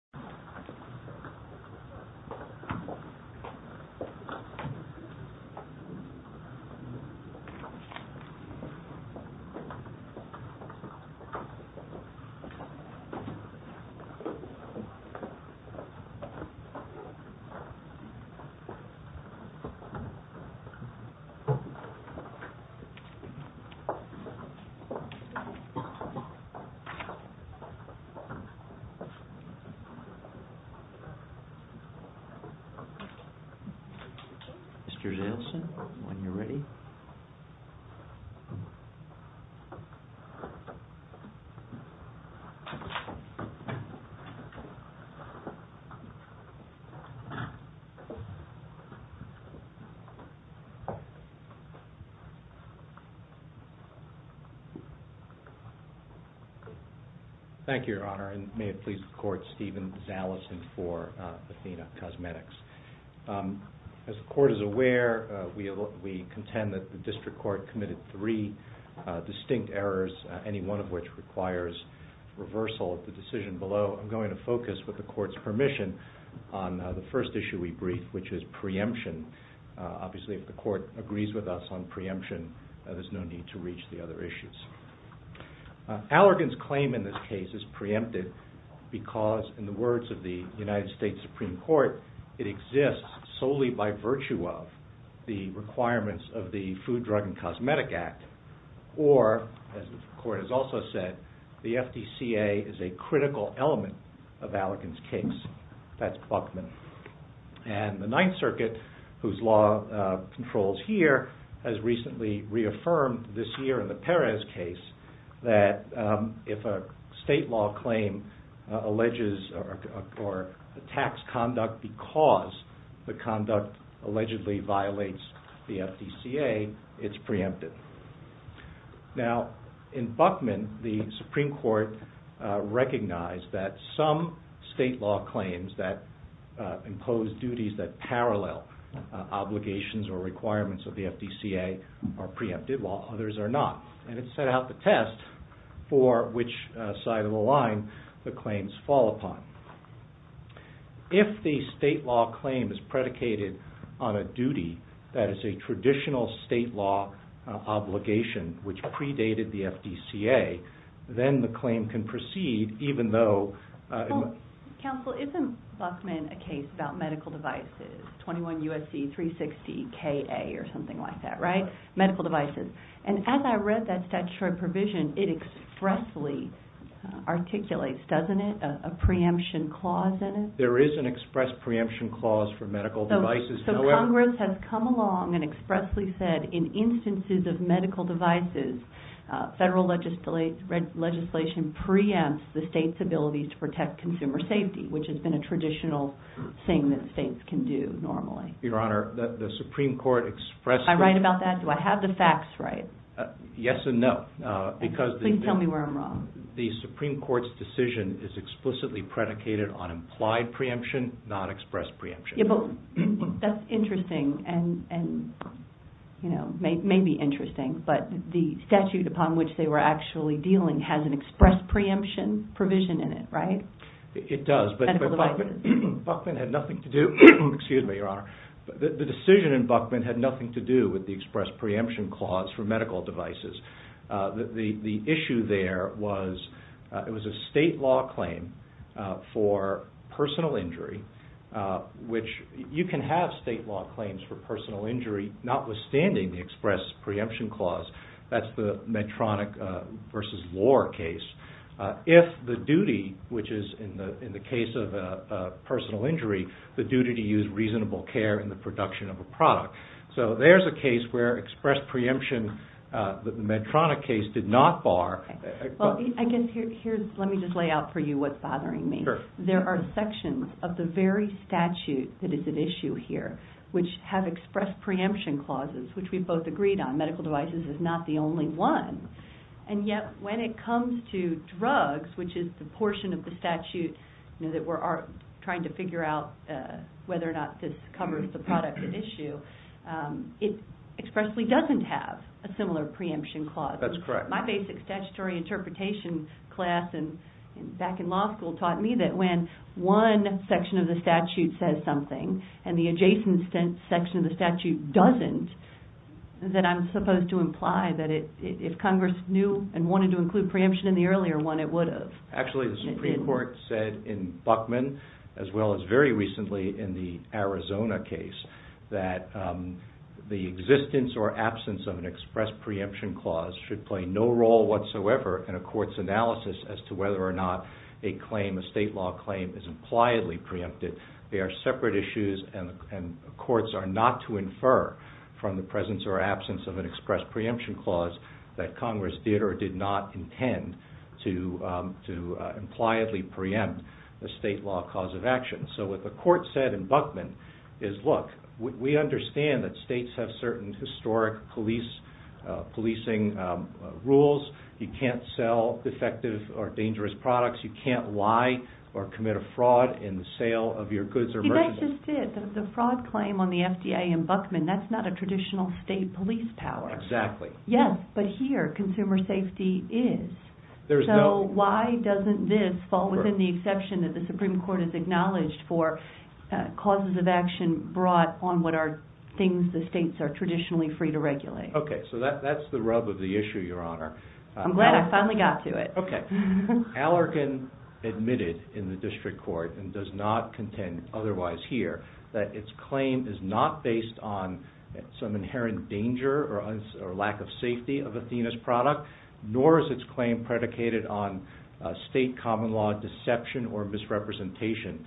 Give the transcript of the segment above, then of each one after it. ATHENA COSMETICS Mr. Zaleson, when you're ready. Thank you, Your Honor, and may it please the Court, Stephen Zaleson for Athena Cosmetics. As the Court is aware, we contend that the District Court committed three distinct errors, any one of which requires reversal of the decision below. So I'm going to focus, with the Court's permission, on the first issue we brief, which is preemption. Obviously if the Court agrees with us on preemption, there's no need to reach the other issues. Allergan's claim in this case is preempted because, in the words of the United States Supreme Court, it exists solely by virtue of the requirements of the Food, Drug and And the Ninth Circuit, whose law controls here, has recently reaffirmed this year in the Perez case that if a state law claim alleges or attacks conduct because the conduct allegedly violates the FDCA, it's preempted. Now, in Buckman, the Supreme Court recognized that some state law claims that impose duties that parallel obligations or requirements of the FDCA are preempted, while others are not, and it set out the test for which side of the line the claims fall upon. If the state law claim is predicated on a duty that is a traditional state law obligation, which predated the FDCA, then the claim can proceed even though... Counsel, isn't Buckman a case about medical devices? 21 U.S.C. 360 K.A. or something like that, right? Medical devices. And as I read that statutory provision, it expressly articulates, doesn't it, a preemption clause in it? There is an express preemption clause for medical devices. So Congress has come along and expressly said, in instances of medical devices, federal legislation preempts the state's ability to protect consumer safety, which has been a traditional thing that states can do normally. Your Honor, the Supreme Court expressed... Am I right about that? Do I have the facts right? Yes and no. Please tell me where I'm wrong. The Supreme Court's decision is explicitly predicated on implied preemption, not expressed preemption. That's interesting, and may be interesting, but the statute upon which they were actually dealing has an expressed preemption provision in it, right? It does, but Buckman had nothing to do... with the expressed preemption clause for medical devices. The issue there was, it was a state law claim for personal injury, which you can have state law claims for personal injury notwithstanding the expressed preemption clause. That's the Medtronic v. Lohr case. If the duty, which is in the case of a personal injury, the duty to use reasonable care in the production of a product. So there's a case where expressed preemption, the Medtronic case, did not bar... Let me just lay out for you what's bothering me. There are sections of the very statute that is at issue here, which have expressed preemption clauses, which we both agreed on. Medical devices is not the only one. And yet when it comes to drugs, which is the portion of the statute that we're trying to figure out whether or not this covers the product at issue, it expressly doesn't have a similar preemption clause. That's correct. My basic statutory interpretation class back in law school taught me that when one section of the statute says something, and the adjacent section of the statute doesn't, that I'm supposed to imply that if Congress knew and wanted to include preemption in the earlier one, it would have. Actually, the Supreme Court said in Buckman, as well as very recently in the Arizona case, that the existence or absence of an expressed preemption clause should play no role whatsoever in a court's analysis as to whether or not a state law claim is impliedly preempted. They are separate issues and courts are not to infer from the presence or absence of an expressed preemption clause that Congress did or did not intend to impliedly preempt a state law cause of action. So what the court said in Buckman is, look, we understand that states have certain historic policing rules. You can't sell defective or dangerous products. You can't lie or commit a fraud in the sale of your goods or merchandise. You guys just did. The fraud claim on the FDA in Buckman, that's not a traditional state police power. Exactly. Yes, but here, consumer safety is. So why doesn't this fall within the exception that the Supreme Court has acknowledged for causes of action brought on what are things the states are traditionally free to regulate? Okay, so that's the rub of the issue, Your Honor. I'm glad I finally got to it. Okay. Allergan admitted in the district court and does not contend otherwise here that its claim is not based on some inherent danger or lack of safety of Athena's product, nor is its claim predicated on state common law deception or misrepresentation.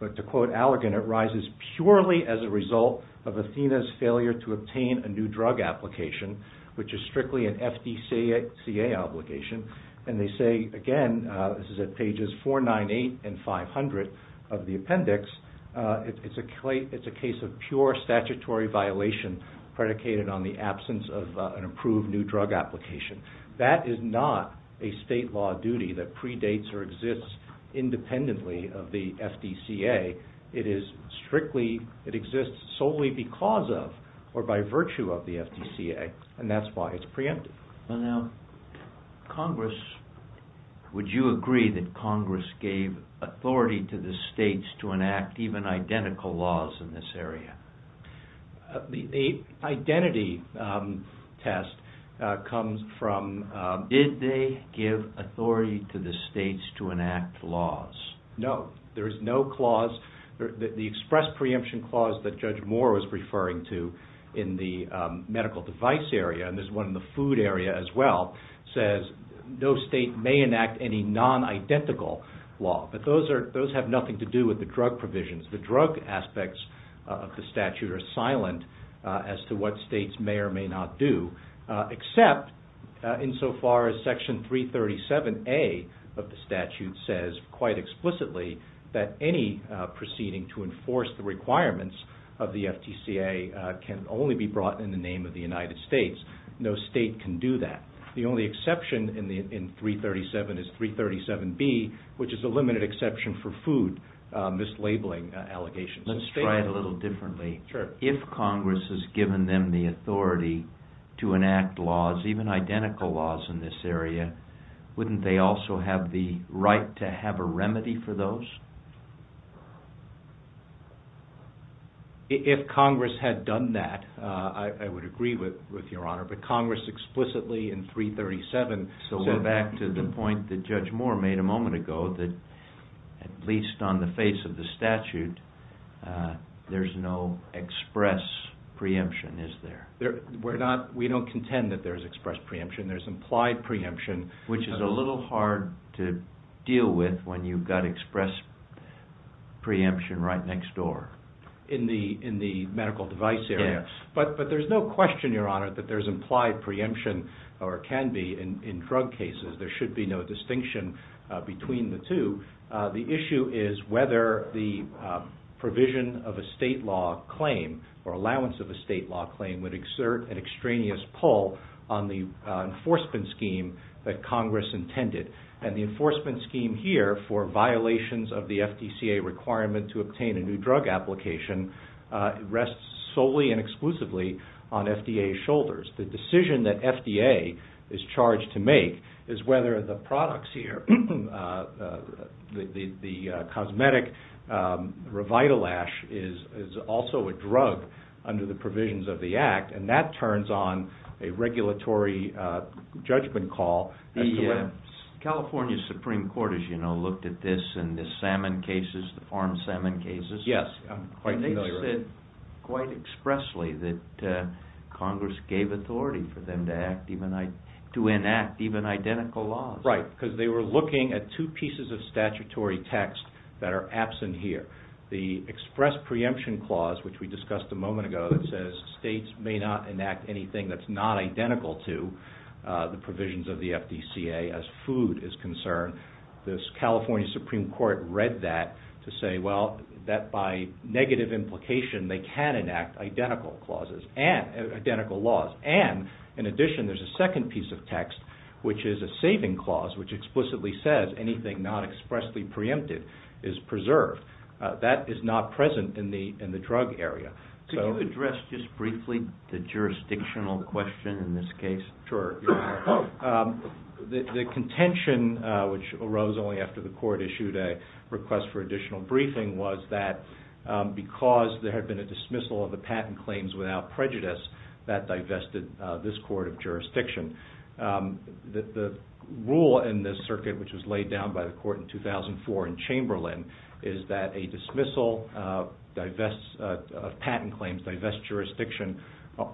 But to quote Allergan, it rises purely as a result of Athena's failure to obtain a new drug application, which is strictly an FDCA obligation. And they say, again, this is at pages 498 and 500 of the appendix, it's a case of pure statutory violation predicated on the absence of an approved new drug application. That is not a state law duty that predates or exists independently of the FDCA. It is strictly, it exists solely because of or by virtue of the FDCA, and that's why it's preempted. Now, Congress, would you agree that Congress gave authority to the states to enact even identical laws in this area? The identity test comes from... Did they give authority to the states to enact laws? No. There is no clause, the express preemption clause that Judge Moore was referring to in the medical device area, and there's one in the food area as well, says no state may enact any non-identical law. But those have nothing to do with the drug provisions. The drug aspects of the statute are silent as to what states may or may not do, except insofar as Section 337A of the statute says quite explicitly that any proceeding to enforce the requirements of the FDCA can only be brought in the name of the United States. No state can do that. The only exception in 337 is 337B, which is a limited exception for food, mislabeling allegations. Let's try it a little differently. Sure. If Congress has given them the authority to enact laws, even identical laws in this area, wouldn't they also have the right to have a remedy for those? If Congress had done that, I would agree with Your Honor, but Congress explicitly in 337 said back to the point that Judge Moore made a moment ago, that at least on the face of the statute, there's no express preemption, is there? We don't contend that there's express preemption, there's implied preemption. Which is a little hard to deal with when you've got express preemption right next door. In the medical device area. Yes. But there's no question, Your Honor, that there's implied preemption or can be in drug cases. There should be no distinction between the two. The issue is whether the provision of a state law claim or allowance of a state law claim would exert an extraneous pull on the enforcement scheme that Congress intended. And the enforcement scheme here for violations of the FDCA requirement to obtain a new drug application rests solely and exclusively on FDA's shoulders. The decision that FDA is charged to make is whether the products here, the cosmetic revital ash is also a drug under the provisions of the act, and that turns on a regulatory judgment call. The California Supreme Court, as you know, looked at this and the salmon cases, the farmed salmon cases. Yes, I'm quite familiar with it. Quite expressly that Congress gave authority for them to enact even identical laws. Right. Because they were looking at two pieces of statutory text that are absent here. The express preemption clause, which we discussed a moment ago, that says states may not enact anything that's not identical to the provisions of the FDCA as food is concerned. The California Supreme Court read that to say, well, that by negative implication, they can enact identical clauses and identical laws. And in addition, there's a second piece of text, which is a saving clause, which explicitly says anything not expressly preempted is preserved. That is not present in the drug area. Could you address just briefly the jurisdictional question in this case? Sure. The contention, which arose only after the court issued a request for additional briefing, was that because there had been a dismissal of the patent claims without prejudice, that divested this court of jurisdiction. The rule in this circuit, which was laid down by the court in 2004 in Chamberlain, is that a dismissal of patent claims divests jurisdiction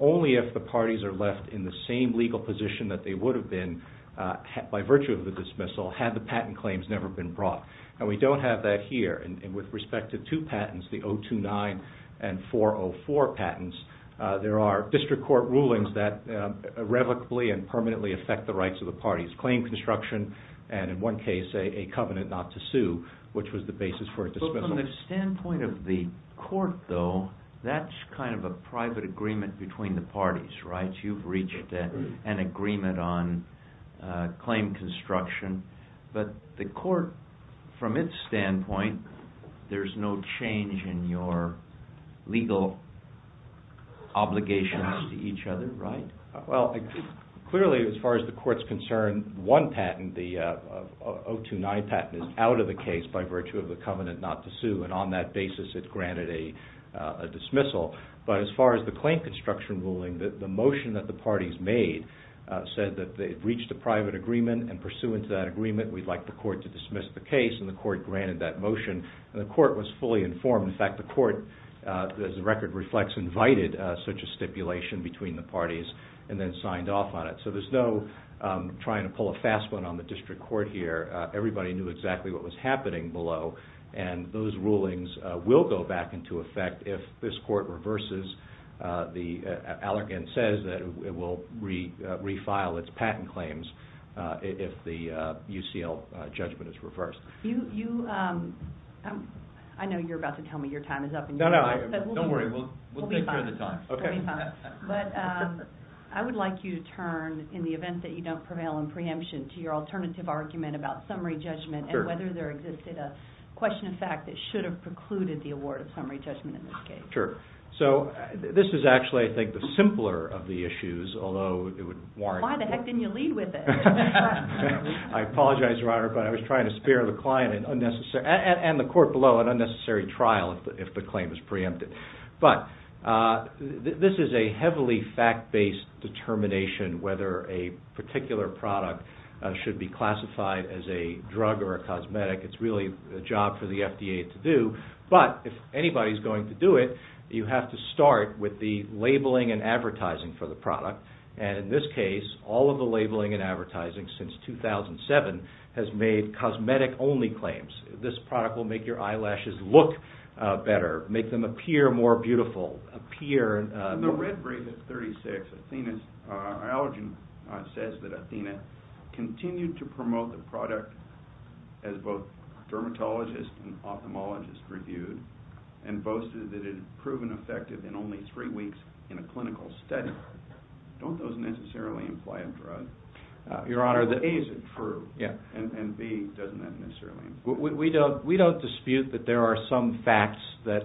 only if the parties are left in the same legal position that they would have been by virtue of the dismissal had the patent claims never been brought. And we don't have that here. And with respect to two patents, the 029 and 404 patents, there are district court rulings that irrevocably and permanently affect the rights of the parties. Claim construction, and in one case, a covenant not to sue, which was the basis for a dismissal. From the standpoint of the court, though, that's kind of a private agreement between the parties, right? You've reached an agreement on claim construction. But the court, from its standpoint, there's no change in your legal obligations to each other, right? Well, clearly, as far as the court's concerned, one patent, the 029 patent, is out of the case by virtue of the covenant not to sue. And on that basis, it's granted a dismissal. But as far as the claim construction ruling, the motion that the parties made said that they'd reached a private agreement, and pursuant to that agreement, we'd like the court to dismiss the case, and the court granted that motion. And the court was fully informed. In fact, the court, as the record reflects, invited such a stipulation between the parties and then signed off on it. So there's no trying to pull a fast one on the district court here. Everybody knew exactly what was happening below. And those rulings will go back into effect if this court reverses. The Allergan says that it will refile its patent claims if the UCL judgment is reversed. I know you're about to tell me your time is up. No, no, don't worry. We'll take care of the time. We'll be fine. But I would like you to turn, in the event that you don't prevail in preemption, to your alternative argument about summary judgment and whether there existed a question of fact that should have precluded the award of summary judgment in this case. Sure. So this is actually, I think, the simpler of the issues, although it would warrant... Why the heck didn't you lead with it? I apologize, Your Honor, but I was trying to spare the client an unnecessary, and the court below, an unnecessary trial if the claim is preempted. But this is a heavily fact-based determination whether a particular product should be classified as a drug or a cosmetic. It's really a job for the FDA to do. But if anybody's going to do it, you have to start with the labeling and advertising for the product. And in this case, all of the labeling and advertising since 2007 has made cosmetic-only claims. This product will make your eyelashes look better, make them appear more beautiful, appear... In the red brief at 36, Allergan says that Athena continued to promote the product as both dermatologists and ophthalmologists reviewed and boasted that it had proven effective in only three weeks in a clinical study. Don't those necessarily imply a drug? Your Honor, the... A, is it true? Yeah. And B, doesn't that necessarily imply a drug? We don't dispute that there are some facts that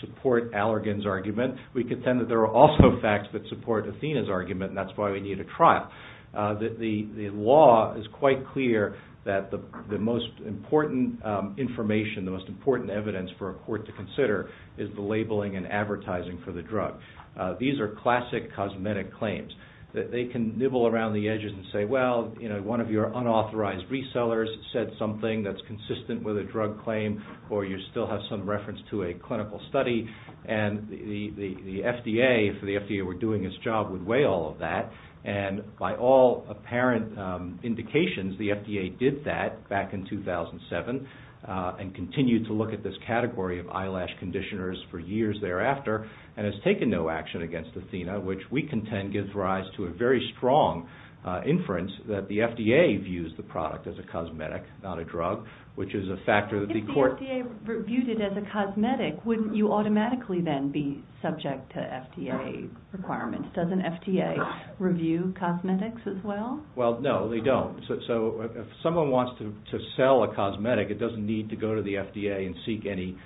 support Allergan's argument. We contend that there are also facts that support Athena's argument, and that's why we need a trial. The law is quite clear that the most important information, the most important evidence for a court to consider is the labeling and advertising for the drug. These are classic cosmetic claims. They can nibble around the edges and say, well, you know, one of your unauthorized resellers said something that's consistent with a drug claim, or you still have some reference to a clinical study. And the FDA, if the FDA were doing its job, would weigh all of that. And by all apparent indications, the FDA did that back in 2007 and continued to look at this category of eyelash conditioners for years thereafter, and has taken no action against Athena, which we contend gives rise to a very strong inference that the FDA views the product as a cosmetic, not a drug, which is a factor that the court... ...would automatically then be subject to FDA requirements. Doesn't FDA review cosmetics as well? Well, no, they don't. So if someone wants to sell a cosmetic, it doesn't need to go to the FDA and seek any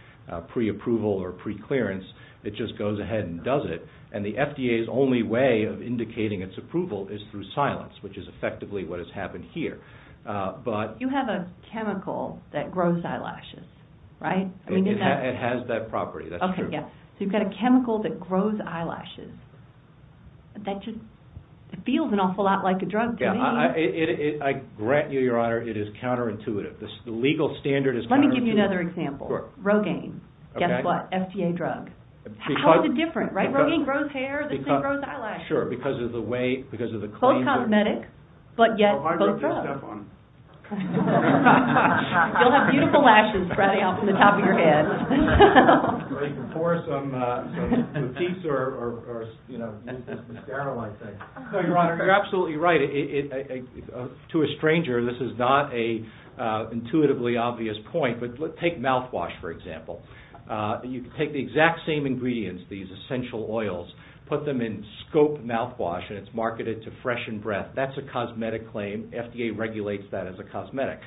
pre-approval or pre-clearance. It just goes ahead and does it. And the FDA's only way of indicating its approval is through silence, which is effectively what has happened here, but... You have a chemical that grows eyelashes, right? I mean, is that... It has that property. Okay, yeah. So you've got a chemical that grows eyelashes. That just feels an awful lot like a drug to me. Yeah, I grant you, Your Honor, it is counterintuitive. The legal standard is counterintuitive. Let me give you another example. Sure. Rogaine. Guess what? FDA drug. How is it different, right? Rogaine grows hair. This thing grows eyelashes. Sure, because of the way... Both cosmetic, but yet both drugs. You'll have beautiful lashes sprouting out from the top of your head. You can pour some mouthpiece or, you know, misterial, I think. No, Your Honor, you're absolutely right. To a stranger, this is not an intuitively obvious point, but take mouthwash, for example. You can take the exact same ingredients, these essential oils, put them in scope mouthwash, and it's marketed to fresh in breath. That's a cosmetic claim. FDA regulates that as a cosmetic.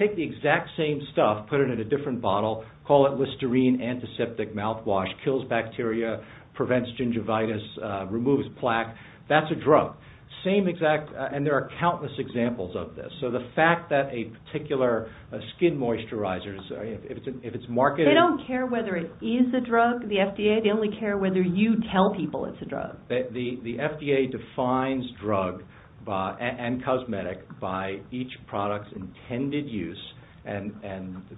Take the exact same stuff, put it in a different bottle, call it Listerine Antiseptic Mouthwash. Kills bacteria, prevents gingivitis, removes plaque. That's a drug. And there are countless examples of this. So the fact that a particular skin moisturizer, if it's marketed... They don't care whether it is a drug, the FDA. They only care whether you tell people it's a drug. The FDA defines drug and cosmetic by each product's intended use and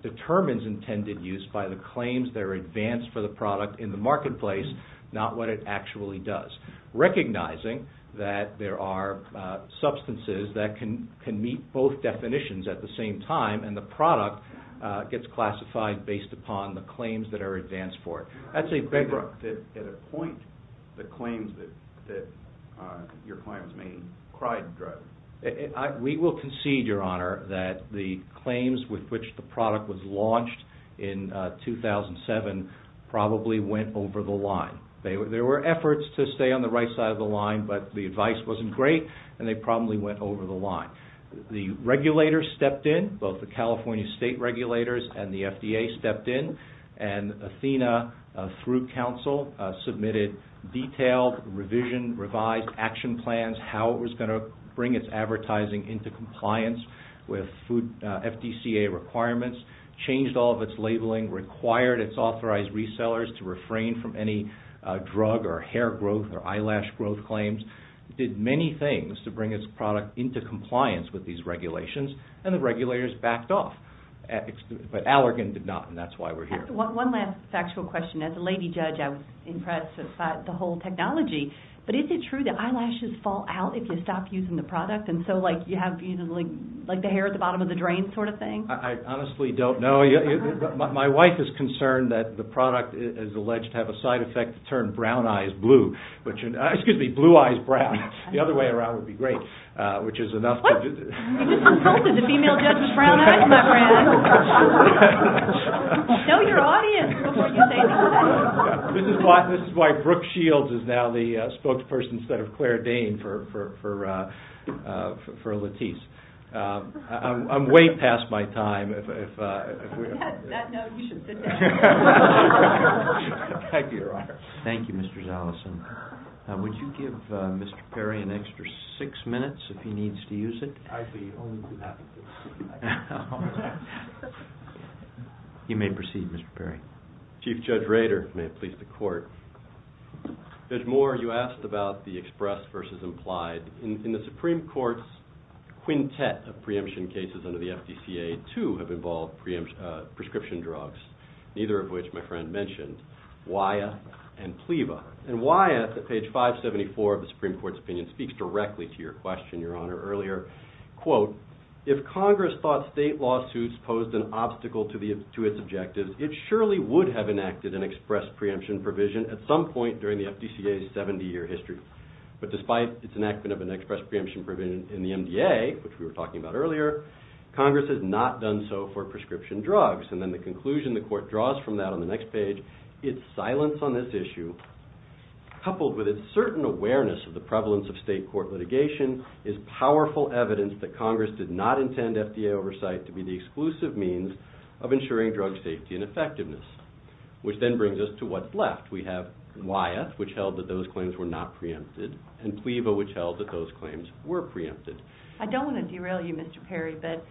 determines intended use by the claims that are advanced for the product in the marketplace, not what it actually does. Recognizing that there are substances that can meet both definitions at the same time, and the product gets classified based upon the claims that are advanced for it. I'd say... You can't appoint the claims that your clients may cry drug. We will concede, Your Honor, that the claims with which the product was launched in 2007 probably went over the line. There were efforts to stay on the right side of the line, but the advice wasn't great, and they probably went over the line. The regulators stepped in. Both the California state regulators and the FDA stepped in. And Athena, through counsel, submitted detailed revision, revised action plans, how it was going to bring its advertising into compliance with FDCA requirements, changed all of its labeling, required its authorized resellers to refrain from any drug or hair growth or eyelash growth claims, did many things to bring its product into compliance with these regulations, and the regulators backed off. But Allergan did not, and that's why we're here. One last factual question. As a lady judge, I was impressed with the whole technology, but is it true that eyelashes fall out if you stop using the product? And so, like, you have, you know, like, like the hair at the bottom of the drain sort of thing? I honestly don't know. My wife is concerned that the product is alleged to have a side effect to turn brown eyes blue, which, excuse me, blue eyes brown. The other way around would be great, which is enough. What? You just insulted the female judge with brown eyes, my friend. Show your audience before you say anything. This is why Brooke Shields is now the spokesperson instead of Claire Dane for Latisse. I'm way past my time. Thank you, Mr. Zaleson. Would you give Mr. Perry an extra six minutes if he needs to use it? I'd be only too happy to. You may proceed, Mr. Perry. Chief Judge Rader, may it please the court. Judge Moore, you asked about the express versus implied. In the Supreme Court's quintet of preemption cases under the FDCA, two have involved prescription drugs, neither of which my friend mentioned, WIA and PLEVA. And WIA, at page 574 of the Supreme Court's opinion, speaks directly to your question, Your Honor, earlier. Quote, if Congress thought state lawsuits posed an obstacle to its objectives, it surely would have enacted an express preemption provision at some point during the FDCA's 70-year history. But despite its enactment of an express preemption provision in the MDA, which we were talking about earlier, Congress has not done so for prescription drugs. And then the conclusion the court draws from that on the next page, its silence on this issue, coupled with its certain awareness of the prevalence of state court litigation, is powerful evidence that Congress did not intend FDA oversight to be the exclusive means of ensuring drug safety and effectiveness. Which then brings us to what's left. We have WIA, which held that those claims were not preempted, and PLEVA, which held that those claims were preempted. I don't want to derail you, Mr. Perry, but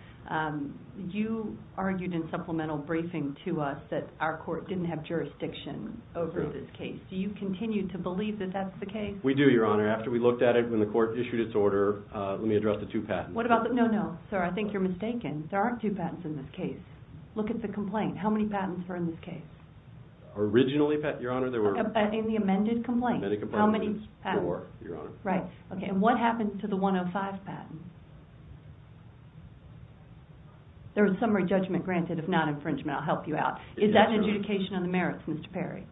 you argued in supplemental briefing to us that our court didn't have jurisdiction over this case. Do you continue to believe that that's the case? We do, Your Honor. After we looked at it when the court issued its order, let me address the two patents. What about the... no, no, sir, I think you're mistaken. There aren't two patents in this case. Look at the complaint. How many patents are in this case? Originally, Your Honor, there were... In the amended complaint, how many patents? Four, Your Honor. Right, okay. And what happened to the 105 patent? There was summary judgment granted of non-infringement. I'll help you out. Is that adjudication on the merits, Mr. Perry?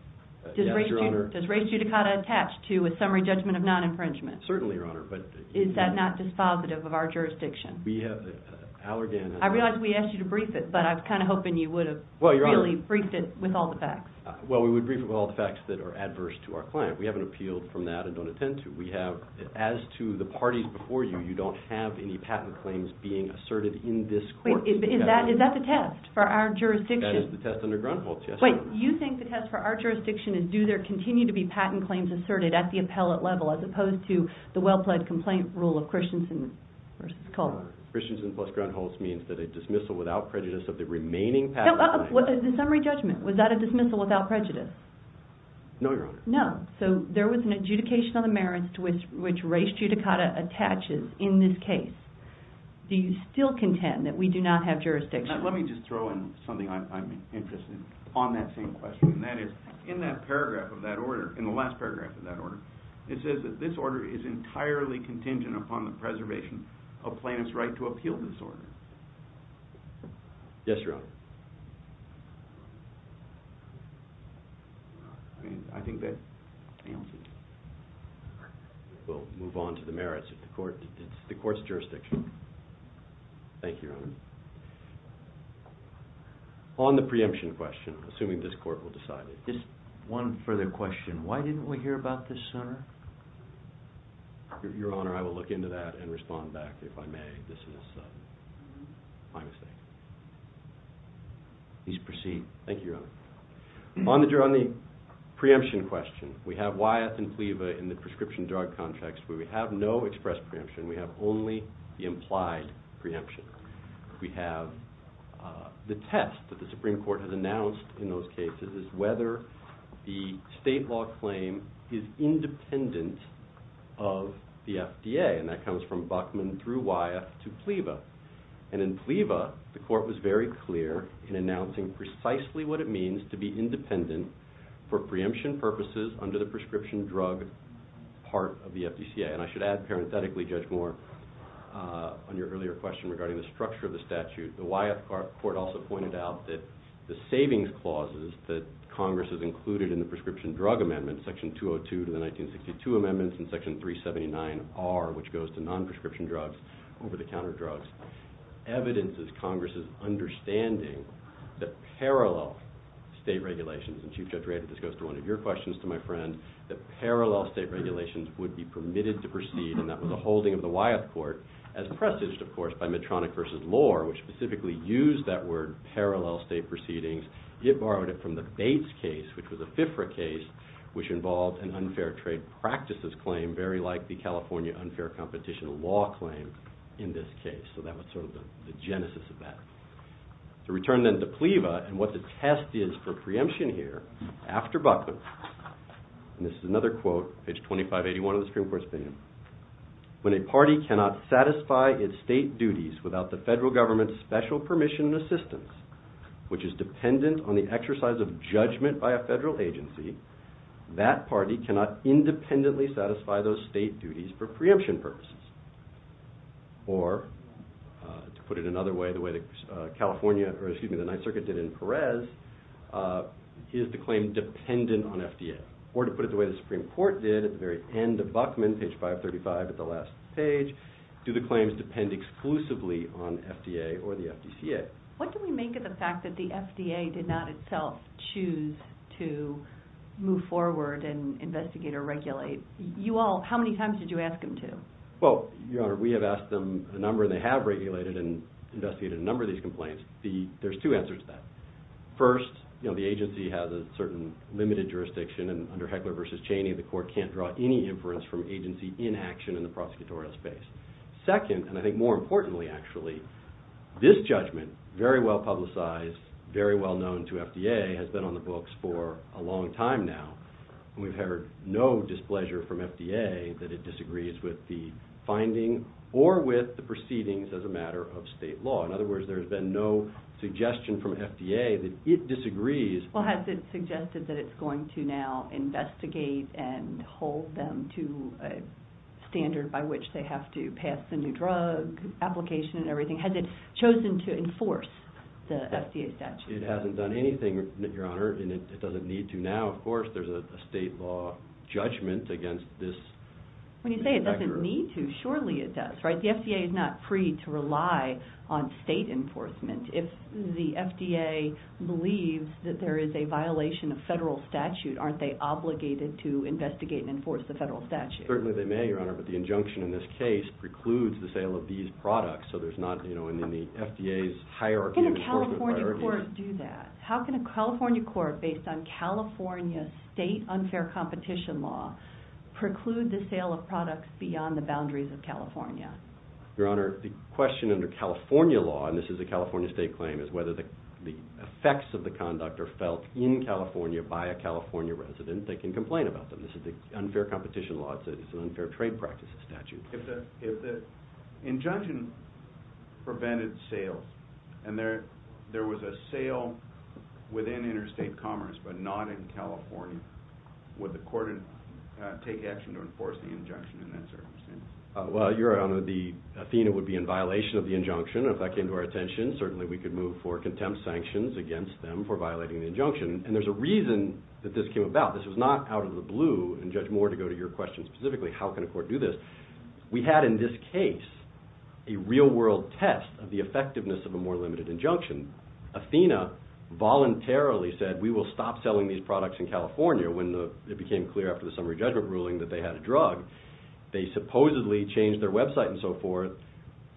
Yes, Your Honor. Does res judicata attach to a summary judgment of non-infringement? Certainly, Your Honor, but... Is that not dispositive of our jurisdiction? We have... I realize we asked you to brief it, but I was kind of hoping you would have really briefed it with all the facts. Well, we would brief it with all the facts that are adverse to our client. We haven't appealed from that and don't intend to. We have... As to the parties before you, you don't have any patent claims being asserted in this court. Wait, is that the test for our jurisdiction? That is the test under Grunholz, yes, Your Honor. Wait, you think the test for our jurisdiction is do there continue to be patent claims asserted at the appellate level as opposed to the well-pledged complaint rule of Christensen versus Culver? Christensen plus Grunholz means that a dismissal without prejudice of the remaining patent claim... The summary judgment, was that a dismissal without prejudice? No, Your Honor. No, so there was an adjudication on the merits which res judicata attaches in this case. Do you still contend that we do not have jurisdiction? Let me just throw in something I'm interested in on that same question, and that is in that paragraph of that order, in the last paragraph of that order, it says that this order is entirely contingent upon the preservation of plaintiff's right to appeal this order. Yes, Your Honor. I mean, I think that answers it. We'll move on to the merits of the court, the court's jurisdiction. Thank you, Your Honor. On the preemption question, assuming this court will decide it. One further question, why didn't we hear about this sooner? Your Honor, I will look into that and respond back if I may. This is my mistake. Please proceed. Thank you, Your Honor. On the preemption question, we have Wyeth and Fleva in the prescription drug context where we have no express preemption. We have only the implied preemption. We have the test that the Supreme Court has announced in those cases is whether the state law claim is independent of the FDA, and that comes from Buckman through Wyeth to Fleva. And in Fleva, the court was very clear in announcing precisely what it means to be independent for preemption purposes under the prescription drug part of the FDCA. And I should add parenthetically, Judge Moore, on your earlier question regarding the structure of the statute, the Wyeth court also pointed out that the savings clauses that Congress has included in the prescription drug amendment, Section 202 to the 1962 amendments and Section 379R, which goes to non-prescription drugs, over-the-counter drugs, evidences Congress's understanding that parallel state regulations, and Chief Judge Rado, this goes to one of your questions to my friend, that parallel state regulations would be permitted to proceed, and that was a holding of the Wyeth court, as presaged, of course, by Medtronic v. Lohr, which specifically used that word, parallel state proceedings. It borrowed it from the Bates case, which was a FIFRA case, which involved an unfair trade practices claim, very like the California unfair competition law claim in this case. So that was sort of the genesis of that. To return then to Fleva and what the test is for preemption here, after Buckman, and this is another quote, page 2581 of the Supreme Court's opinion, when a party cannot satisfy its state duties without the federal government's special permission and assistance, which is dependent on the exercise of judgment by a federal agency, that party cannot independently satisfy those state duties for preemption purposes. Or, to put it another way, the way the California, or excuse me, the Ninth Circuit did in Perez, is the claim dependent on FDA. Or to put it the way the Supreme Court did at the very end of Buckman, page 535 at the last page, do the claims depend exclusively on FDA or the FDCA? What do we make of the fact that the FDA did not itself choose to move forward and investigate or regulate? How many times did you ask them to? Well, Your Honor, we have asked them a number, and they have regulated and investigated a number of these complaints. There's two answers to that. First, the agency has a certain limited jurisdiction, and under Heckler v. Cheney, the court can't draw any inference from agency inaction in the prosecutorial space. Second, and I think more importantly, actually, this judgment, very well publicized, very well known to FDA, has been on the books for a long time now. We've heard no displeasure from FDA that it disagrees with the finding or with the proceedings as a matter of state law. In other words, there's been no suggestion from FDA that it disagrees. Well, has it suggested that it's going to now investigate and hold them to a standard by which they have to pass the new drug application and everything? Has it chosen to enforce the FDA statute? It hasn't done anything, Your Honor, and it doesn't need to now. Of course, there's a state law judgment against this. When you say it doesn't need to, surely it does, right? The FDA is not free to rely on state enforcement. If the FDA believes that there is a violation of federal statute, aren't they obligated to investigate and enforce the federal statute? Certainly they may, Your Honor, but the injunction in this case precludes the sale of these products. So there's not, you know, in the FDA's hierarchy... How can a California court do that? How can a California court, based on California state unfair competition law, preclude the sale of products beyond the boundaries of California? Your Honor, the question under California law, and this is a California state claim, is whether the effects of the conduct are felt in California by a California resident, they can complain about them. This is the unfair competition law. It's an unfair trade practices statute. If the injunction prevented sales, and there was a sale within interstate commerce, but not in California, would the court take action to enforce the injunction in that circumstance? Well, Your Honor, the Athena would be in violation of the injunction, and if that came to our attention, certainly we could move for contempt sanctions against them for violating the injunction. And there's a reason that this came about. This was not out of the blue, and Judge Moore, to go to your question specifically, how can a court do this? We had in this case a real-world test of the effectiveness of a more limited injunction. Athena voluntarily said, we will stop selling these products in California when it became clear after the summary judgment ruling that they had a drug. They supposedly changed their website and so forth.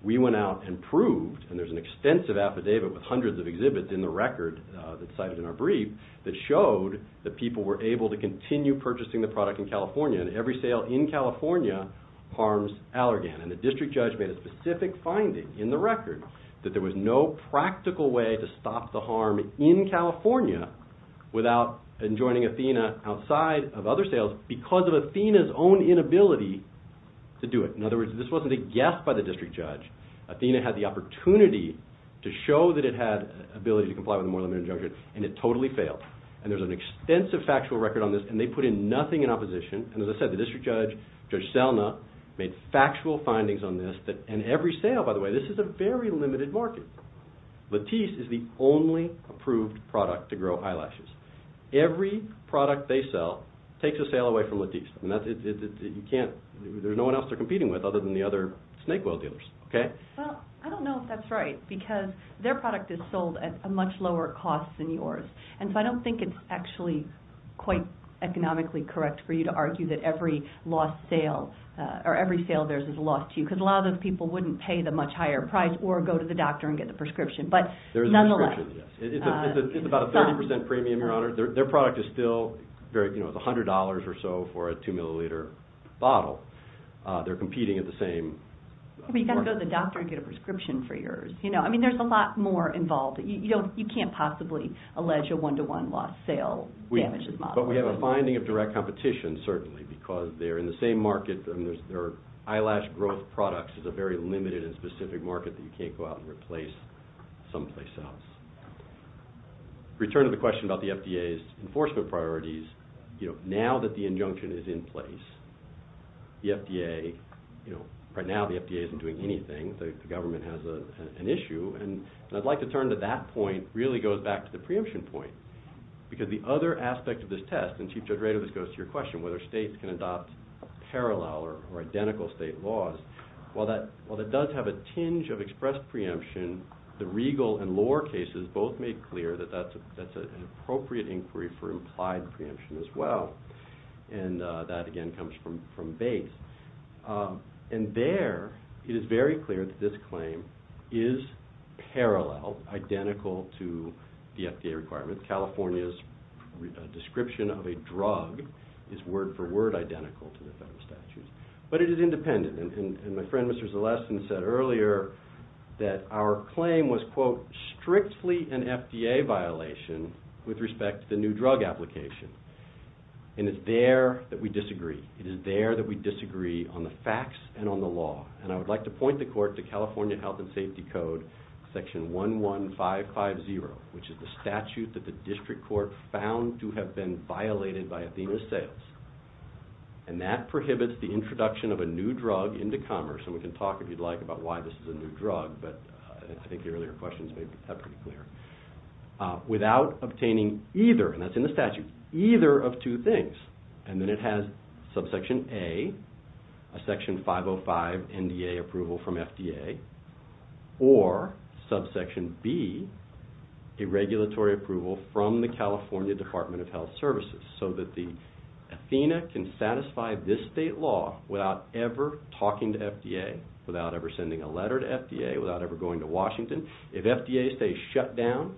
We went out and proved, and there's an extensive affidavit with hundreds of exhibits in the record that's cited in our brief that showed that people were able to continue purchasing the product in California, and every sale in California harms Allergan. And the district judge made a specific finding in the record that there was no practical way to stop the harm in California without enjoining Athena outside of other sales because of Athena's own inability to do it. In other words, this wasn't a guess by the district judge. Athena had the opportunity to show that it had ability to comply with a more limited injunction, and it totally failed. And there's an extensive factual record on this, and they put in nothing in opposition. And as I said, the district judge, Judge Selna, made factual findings on this that, and every sale, by the way, this is a very limited market. Lattice is the only approved product to grow eyelashes. Every product they sell takes a sale away from Lattice. And you can't, there's no one else they're competing with other than the other snake oil dealers, okay? Well, I don't know if that's right because their product is sold at a much lower cost than yours. And so I don't think it's actually quite economically correct for you to argue that every lost sale or every sale of theirs is lost to you because a lot of those people wouldn't pay the much higher price or go to the doctor and get the prescription. But nonetheless- It's about a 30% premium, Your Honor. Their product is still very, you know, it's $100 or so for a two milliliter bottle. They're competing at the same- But you've got to go to the doctor and get a prescription for yours. You know, I mean, there's a lot more involved. You can't possibly allege a one-to-one lost sale. But we have a finding of direct competition, certainly, because they're in the same market and their eyelash growth products is a very limited and specific market that you can't go out and replace someplace else. Return to the question about the FDA's enforcement priorities. You know, now that the injunction is in place, the FDA, you know, right now the FDA isn't doing anything. The government has an issue. And I'd like to turn to that point, really goes back to the preemption point. Because the other aspect of this test, and Chief Judge Radovich goes to your question, whether states can adopt parallel or identical state laws. While that does have a tinge of expressed preemption, the Regal and Lore cases both made clear that that's an appropriate inquiry for implied preemption as well. And that, again, comes from Bates. And there, it is very clear that this claim is parallel, identical to the FDA requirements, California's description of a drug is word for word identical to the federal statutes. But it is independent. And my friend, Mr. Zalesan, said earlier that our claim was, quote, strictly an FDA violation with respect to the new drug application. And it's there that we disagree. It is there that we disagree on the facts and on the law. And I would like to point the court to California Health and Safety Code, Section 11550, which is the statute that the district court found to have been violated by Athena Zales. And that prohibits the introduction of a new drug into commerce. And we can talk, if you'd like, about why this is a new drug. But I think the earlier questions made that pretty clear. Without obtaining either, and that's in the statute, either of two things. And then it has Subsection A, a Section 505 NDA approval from FDA, or Subsection B, a regulatory approval from the California Department of Health Services. So that the Athena can satisfy this state law without ever talking to FDA, without ever sending a letter to FDA, without ever going to Washington. If FDA stays shut down,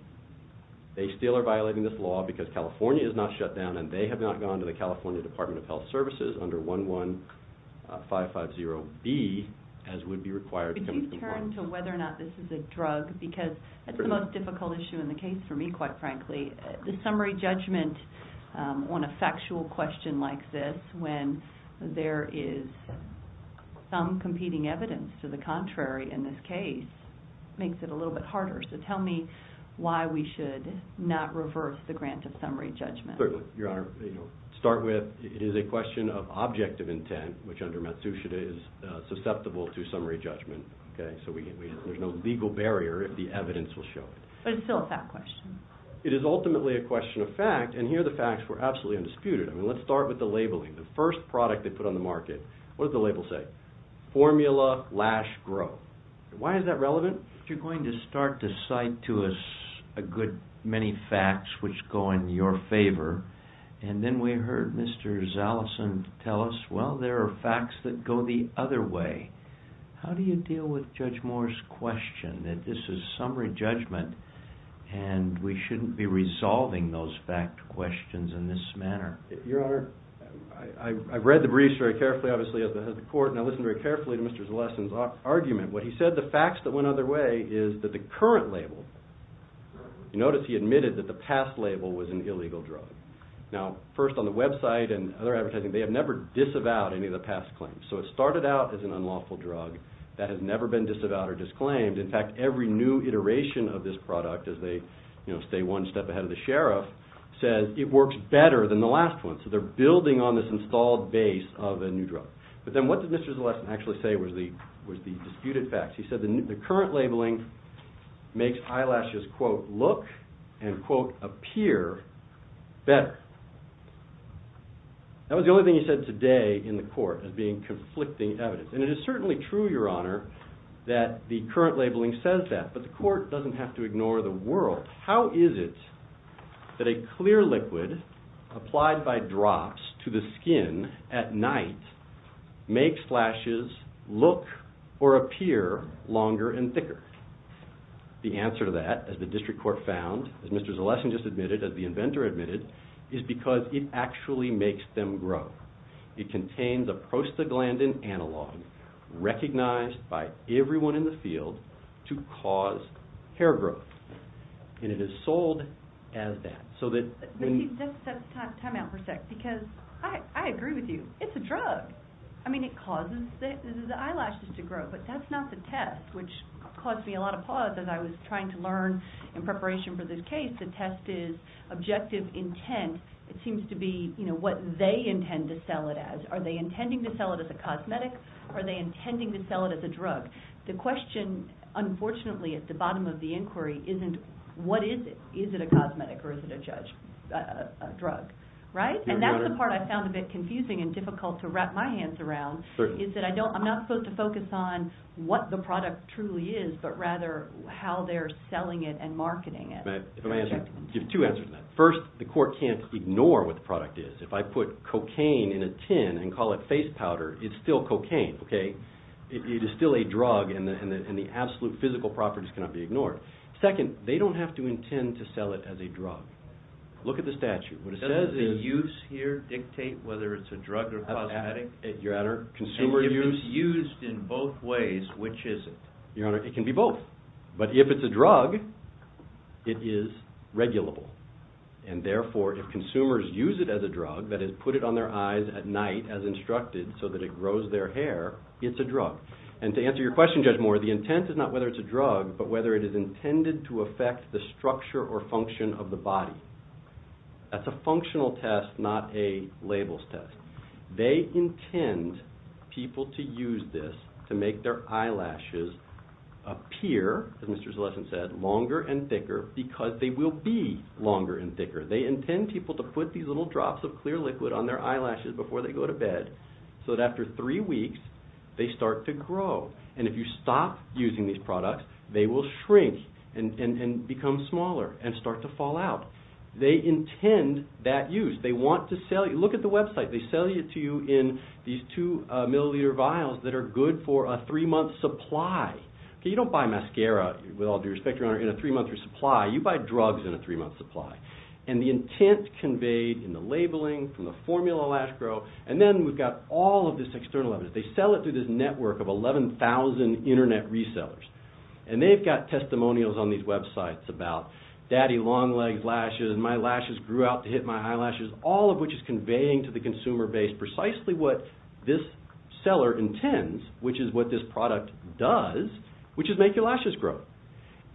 they still are violating this law because California is not shut down and they have not gone to the California Department of Health Services under 11550B, as would be required. Could you turn to whether or not this is a drug? Because that's the most difficult issue in the case for me, quite frankly. The summary judgment on a factual question like this, when there is some competing evidence to the contrary in this case, makes it a little bit harder. So tell me why we should not reverse the grant of summary judgment. Certainly, Your Honor. Start with, it is a question of objective intent, which under Matsushita is susceptible to summary judgment, okay? So there's no legal barrier if the evidence will show it. But it's still a fact question. It is ultimately a question of fact, and here the facts were absolutely undisputed. I mean, let's start with the labeling. The first product they put on the market, what did the label say? Formula Lash Grow. Why is that relevant? You're going to start to cite to us a good many facts which go in your favor. And then we heard Mr. Zaleson tell us, well, there are facts that go the other way. How do you deal with Judge Moore's question that this is summary judgment and we shouldn't be resolving those fact questions in this manner? Your Honor, I've read the briefs very carefully, obviously, at the court, and I listened very carefully to Mr. Zaleson's argument. What he said, the facts that went other way is that the current label, you notice he admitted that the past label was an illegal drug. Now, first on the website and other advertising, they have never disavowed any of the past claims. So it started out as an unlawful drug that has never been disavowed or disclaimed. In fact, every new iteration of this product as they stay one step ahead of the sheriff says it works better than the last one. So they're building on this installed base of a new drug. But then what did Mr. Zaleson actually say was the disputed facts? He said the current labeling makes eyelashes, quote, look and, quote, appear better. That was the only thing he said today in the court as being conflicting evidence. And it is certainly true, Your Honor, that the current labeling says that, but the court doesn't have to ignore the world. How is it that a clear liquid applied by drops to the skin at night makes lashes look or appear longer and thicker? The answer to that, as the district court found, as Mr. Zaleson just admitted, as the inventor admitted, is because it actually makes them grow. It contains a prostaglandin analog recognized by everyone in the field to cause hair growth. And it is sold as that. So that when- Let me just set the time out for a sec because I agree with you. It's a drug. I mean, it causes the eyelashes to grow, but that's not the test, which caused me a lot of pause as I was trying to learn in preparation for this case. The test is objective intent. It seems to be what they intend to sell it as. Are they intending to sell it as a cosmetic? Are they intending to sell it as a drug? The question, unfortunately, at the bottom of the inquiry isn't, what is it? Is it a cosmetic or is it a drug? And that's the part I found a bit confusing and difficult to wrap my hands around, is that I'm not supposed to focus on what the product truly is, but rather how they're selling it and marketing it. Give two answers to that. First, the court can't ignore what the product is. If I put cocaine in a tin and call it face powder, it's still cocaine, okay? It is still a drug and the absolute physical properties cannot be ignored. Second, they don't have to intend to sell it as a drug. Look at the statute. What it says is- Doesn't the use here dictate whether it's a drug or cosmetic? Your Honor, consumer use- And if it's used in both ways, which is it? Your Honor, it can be both. But if it's a drug, it is regulable. And therefore, if consumers use it as a drug, that is, put it on their eyes at night as instructed so that it grows their hair, it's a drug. And to answer your question, Judge Moore, the intent is not whether it's a drug, but whether it is intended to affect the structure or function of the body. That's a functional test, not a labels test. They intend people to use this to make their eyelashes appear, as Mr. Zalesan said, longer and thicker, because they will be longer and thicker. They intend people to put these little drops of clear liquid on their eyelashes before they go to bed so that after three weeks, they start to grow. And if you stop using these products, they will shrink and become smaller and start to fall out. They intend that use. They want to sell you- Look at the website. They sell it to you in these two milliliter vials that are good for a three-month supply. You don't buy mascara, with all due respect, Your Honor, in a three-month supply. You buy drugs in a three-month supply. And the intent conveyed in the labeling, from the formula lash grow, and then we've got all of this external evidence. They sell it through this network of 11,000 internet resellers. And they've got testimonials on these websites about daddy long legs lashes, my lashes grew out to hit my eyelashes, all of which is conveying to the consumer base precisely what this seller intends, which is what this product does, which is make your lashes grow.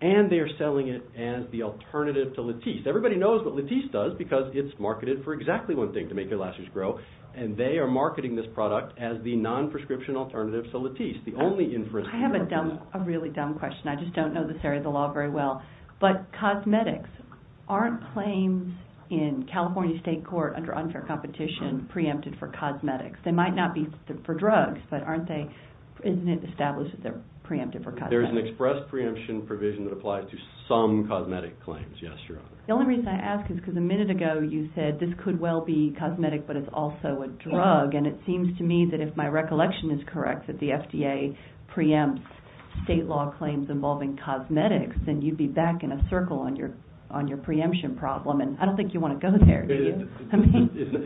And they're selling it as the alternative to Latisse. Everybody knows what Latisse does because it's marketed for exactly one thing, to make your lashes grow. And they are marketing this product as the non-prescription alternative to Latisse. The only inference- I have a dumb, a really dumb question. I just don't know this area of the law very well. But cosmetics aren't claims in California state court under unfair competition, preempted for cosmetics. They might not be for drugs, but aren't they- isn't it established that they're preempted for cosmetics? There's an express preemption provision that applies to some cosmetic claims. Yes, Your Honor. The only reason I ask is because a minute ago you said this could well be cosmetic, but it's also a drug. And it seems to me that if my recollection is correct, that the FDA preempts state law claims involving cosmetics, then you'd be back in a circle on your preemption problem. And I don't think you want to go there, do you?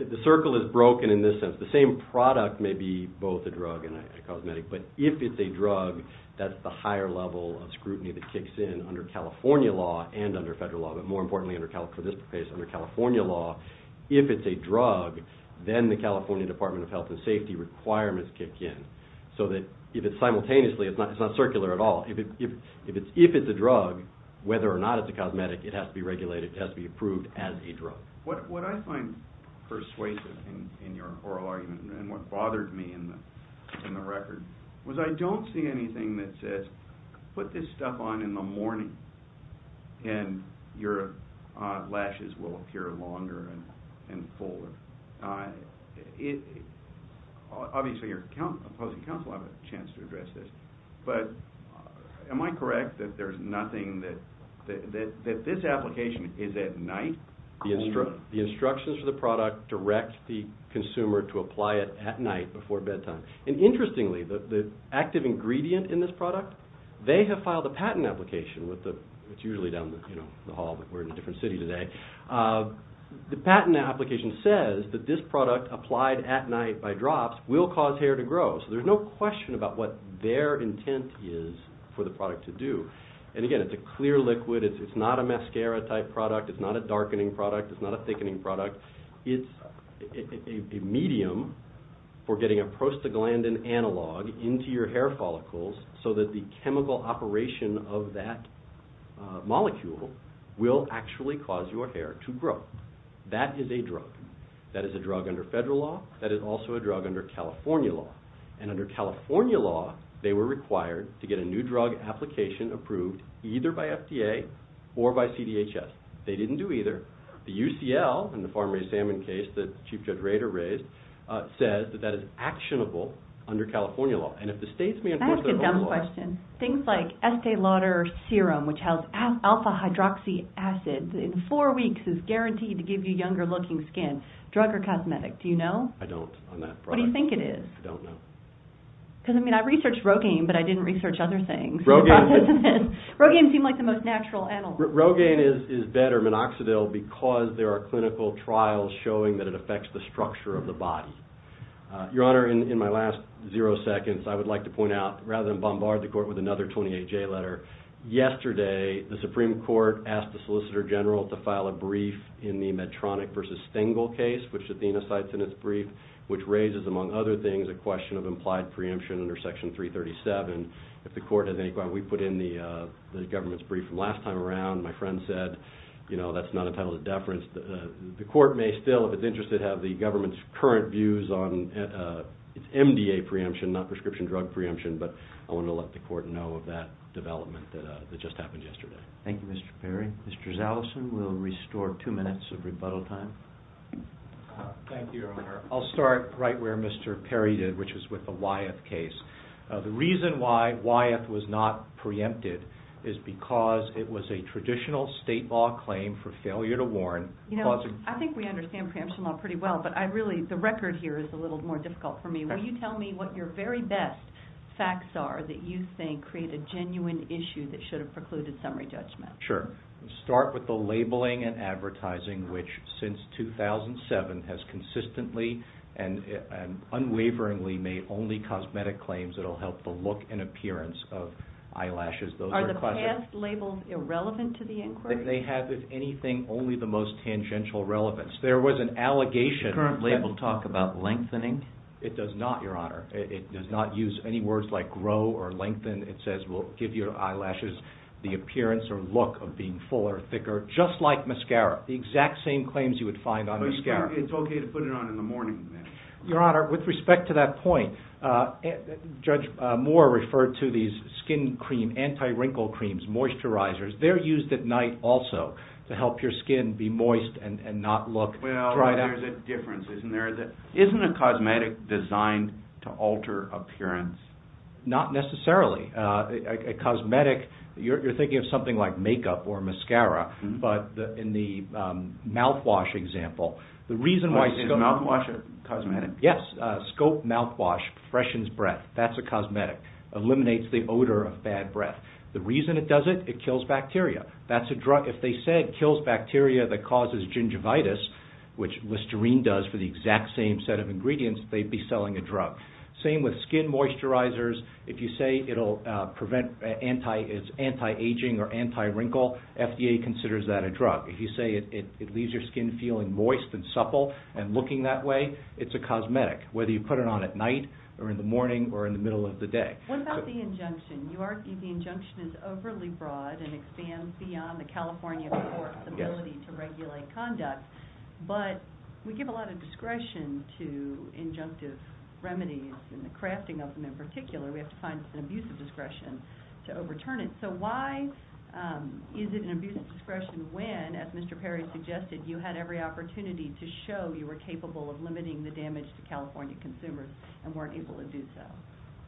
The circle is broken in this sense. The same product may be both a drug and a cosmetic, but if it's a drug, that's the higher level of scrutiny that kicks in under California law and under federal law, but more importantly for this case, under California law, if it's a drug, then the California Department of Health and Safety requirements kick in. So that if it's simultaneously, it's not circular at all. If it's a drug, whether or not it's a cosmetic, it has to be regulated, it has to be approved as a drug. What I find persuasive in your oral argument and what bothered me in the record was I don't see anything that says, put this stuff on in the morning and your lashes will appear longer and fuller. Obviously your opposing counsel have a chance to address this, but am I correct that there's nothing that this application is at night? The instructions for the product direct the consumer to apply it at night before bedtime. And interestingly, the active ingredient in this product, they have filed a patent application with the, it's usually down the hall, but we're in a different city today. The patent application says that this product applied at night by drops will cause hair to grow. So there's no question about what their intent is for the product to do. And again, it's a clear liquid. It's not a mascara type product. It's not a darkening product. It's not a thickening product. It's a medium for getting a prostaglandin analog into your hair follicles so that the chemical operation of that molecule will actually cause your hair to grow. That is a drug. That is a drug under federal law. That is also a drug under California law. And under California law, they were required to get a new drug application approved either by FDA or by CDHS. They didn't do either. The UCL and the farm-raised salmon case that Chief Judge Rader raised says that that is actionable under California law. And if the states may enforce their own law- Can I ask a dumb question? Things like Estee Lauder serum, which has alpha hydroxy acid in four weeks is guaranteed to give you younger looking skin. Drug or cosmetic? Do you know? I don't on that product. What do you think it is? I don't know. Because I mean, I researched Rogaine, but I didn't research other things. Rogaine. Rogaine seemed like the most natural analog. Rogaine is better. Because there are clinical trials showing that it affects the structure of the body. Your Honor, in my last zero seconds, I would like to point out, rather than bombard the court with another 28-J letter. Yesterday, the Supreme Court asked the Solicitor General to file a brief in the Medtronic versus Stengel case, which Athena cites in its brief, which raises, among other things, a question of implied preemption under Section 337. If the court has any- We put in the government's brief from last time around. My friend said, you know, that's not entitled to deference. The court may still, if it's interested, have the government's current views on its MDA preemption, not prescription drug preemption. But I want to let the court know of that development that just happened yesterday. Thank you, Mr. Perry. Mr. Zaleson will restore two minutes of rebuttal time. Thank you, Your Honor. I'll start right where Mr. Perry did, which is with the Wyeth case. The reason why Wyeth was not preempted is because it was a traditional state law claim for failure to warn- You know, I think we understand preemption law pretty well, but I really- The record here is a little more difficult for me. Will you tell me what your very best facts are that you think create a genuine issue that should have precluded summary judgment? Sure. Start with the labeling and advertising, which since 2007 has consistently and unwaveringly made only cosmetic claims that will help the look and appearance of eyelashes. Are the past labels irrelevant to the inquiry? They have, if anything, only the most tangential relevance. There was an allegation- Does the current label talk about lengthening? It does not, Your Honor. It does not use any words like grow or lengthen. It says, well, give your eyelashes the appearance or look of being fuller or thicker, just like mascara. The exact same claims you would find on mascara. It's okay to put it on in the morning then. Your Honor, with respect to that point, Judge Moore referred to these anti-wrinkle creams, moisturizers. They're used at night also to help your skin be moist and not look dried out. Well, there's a difference, isn't there? Isn't a cosmetic designed to alter appearance? Not necessarily. You're thinking of something like makeup or mascara, but in the mouthwash example, the reason why- Is mouthwash a cosmetic? Yes. Scope mouthwash freshens breath. That's a cosmetic. Eliminates the odor of bad breath. The reason it does it, it kills bacteria. That's a drug. If they said kills bacteria that causes gingivitis, which Listerine does for the exact same set of ingredients, they'd be selling a drug. Same with skin moisturizers. If you say it'll prevent anti-aging or anti-wrinkle, FDA considers that a drug. If you say it leaves your skin feeling moist and supple and looking that way, it's a cosmetic, whether you put it on at night or in the morning or in the middle of the day. What about the injunction? You argue the injunction is overly broad and expands beyond the California court's ability to regulate conduct, but we give a lot of discretion to injunctive remedies and the crafting of them. In particular, we have to find an abusive discretion to overturn it. So why is it an abusive discretion when, as Mr. Perry suggested, you had every opportunity to show you were capable of limiting the damage to California consumers and weren't able to do so?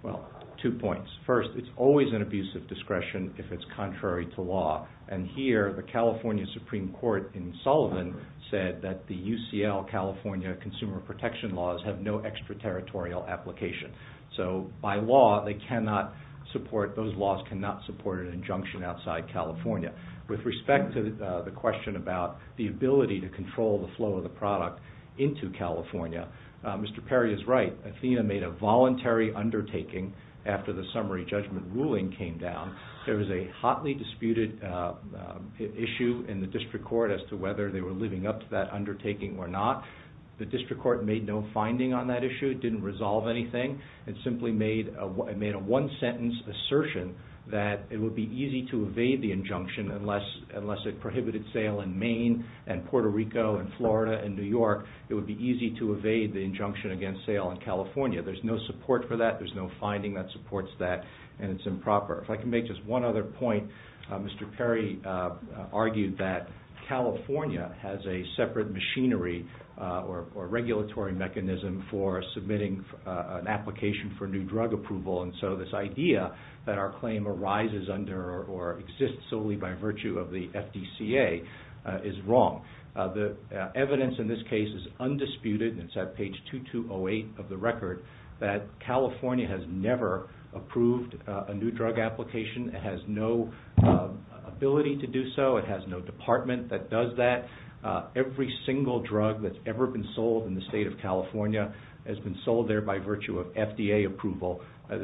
Well, two points. First, it's always an abusive discretion if it's contrary to law. And here, the California Supreme Court in Sullivan said that the UCL California consumer protection laws have no extraterritorial application. So by law, they cannot support, those laws cannot support an injunction outside California. With respect to the question about the ability to control the flow of the product into California, Mr. Perry is right. Athena made a voluntary undertaking after the summary judgment ruling came down. There was a hotly disputed issue in the district court as to whether they were living up to that undertaking or not. The district court made no finding on that issue. It didn't resolve anything. It simply made a one-sentence assertion that it would be easy to evade the injunction unless it prohibited sale in Maine and Puerto Rico and Florida and New York. It would be easy to evade the injunction against sale in California. There's no support for that. There's no finding that supports that and it's improper. If I can make just one other point, Mr. Perry argued that California has a separate machinery or regulatory mechanism for submitting an application for new drug approval. And so this idea that our claim arises under or exists solely by virtue of the FDCA is wrong. The evidence in this case is undisputed. It's at page 2208 of the record that California has never approved a new drug application. It has no ability to do so. It has no department that does that. Every single drug that's ever been sold in the state of California has been sold there by virtue of FDA approval. that's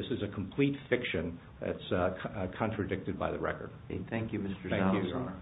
contradicted by the record. Thank you, Mr. Stiles, Your Honor.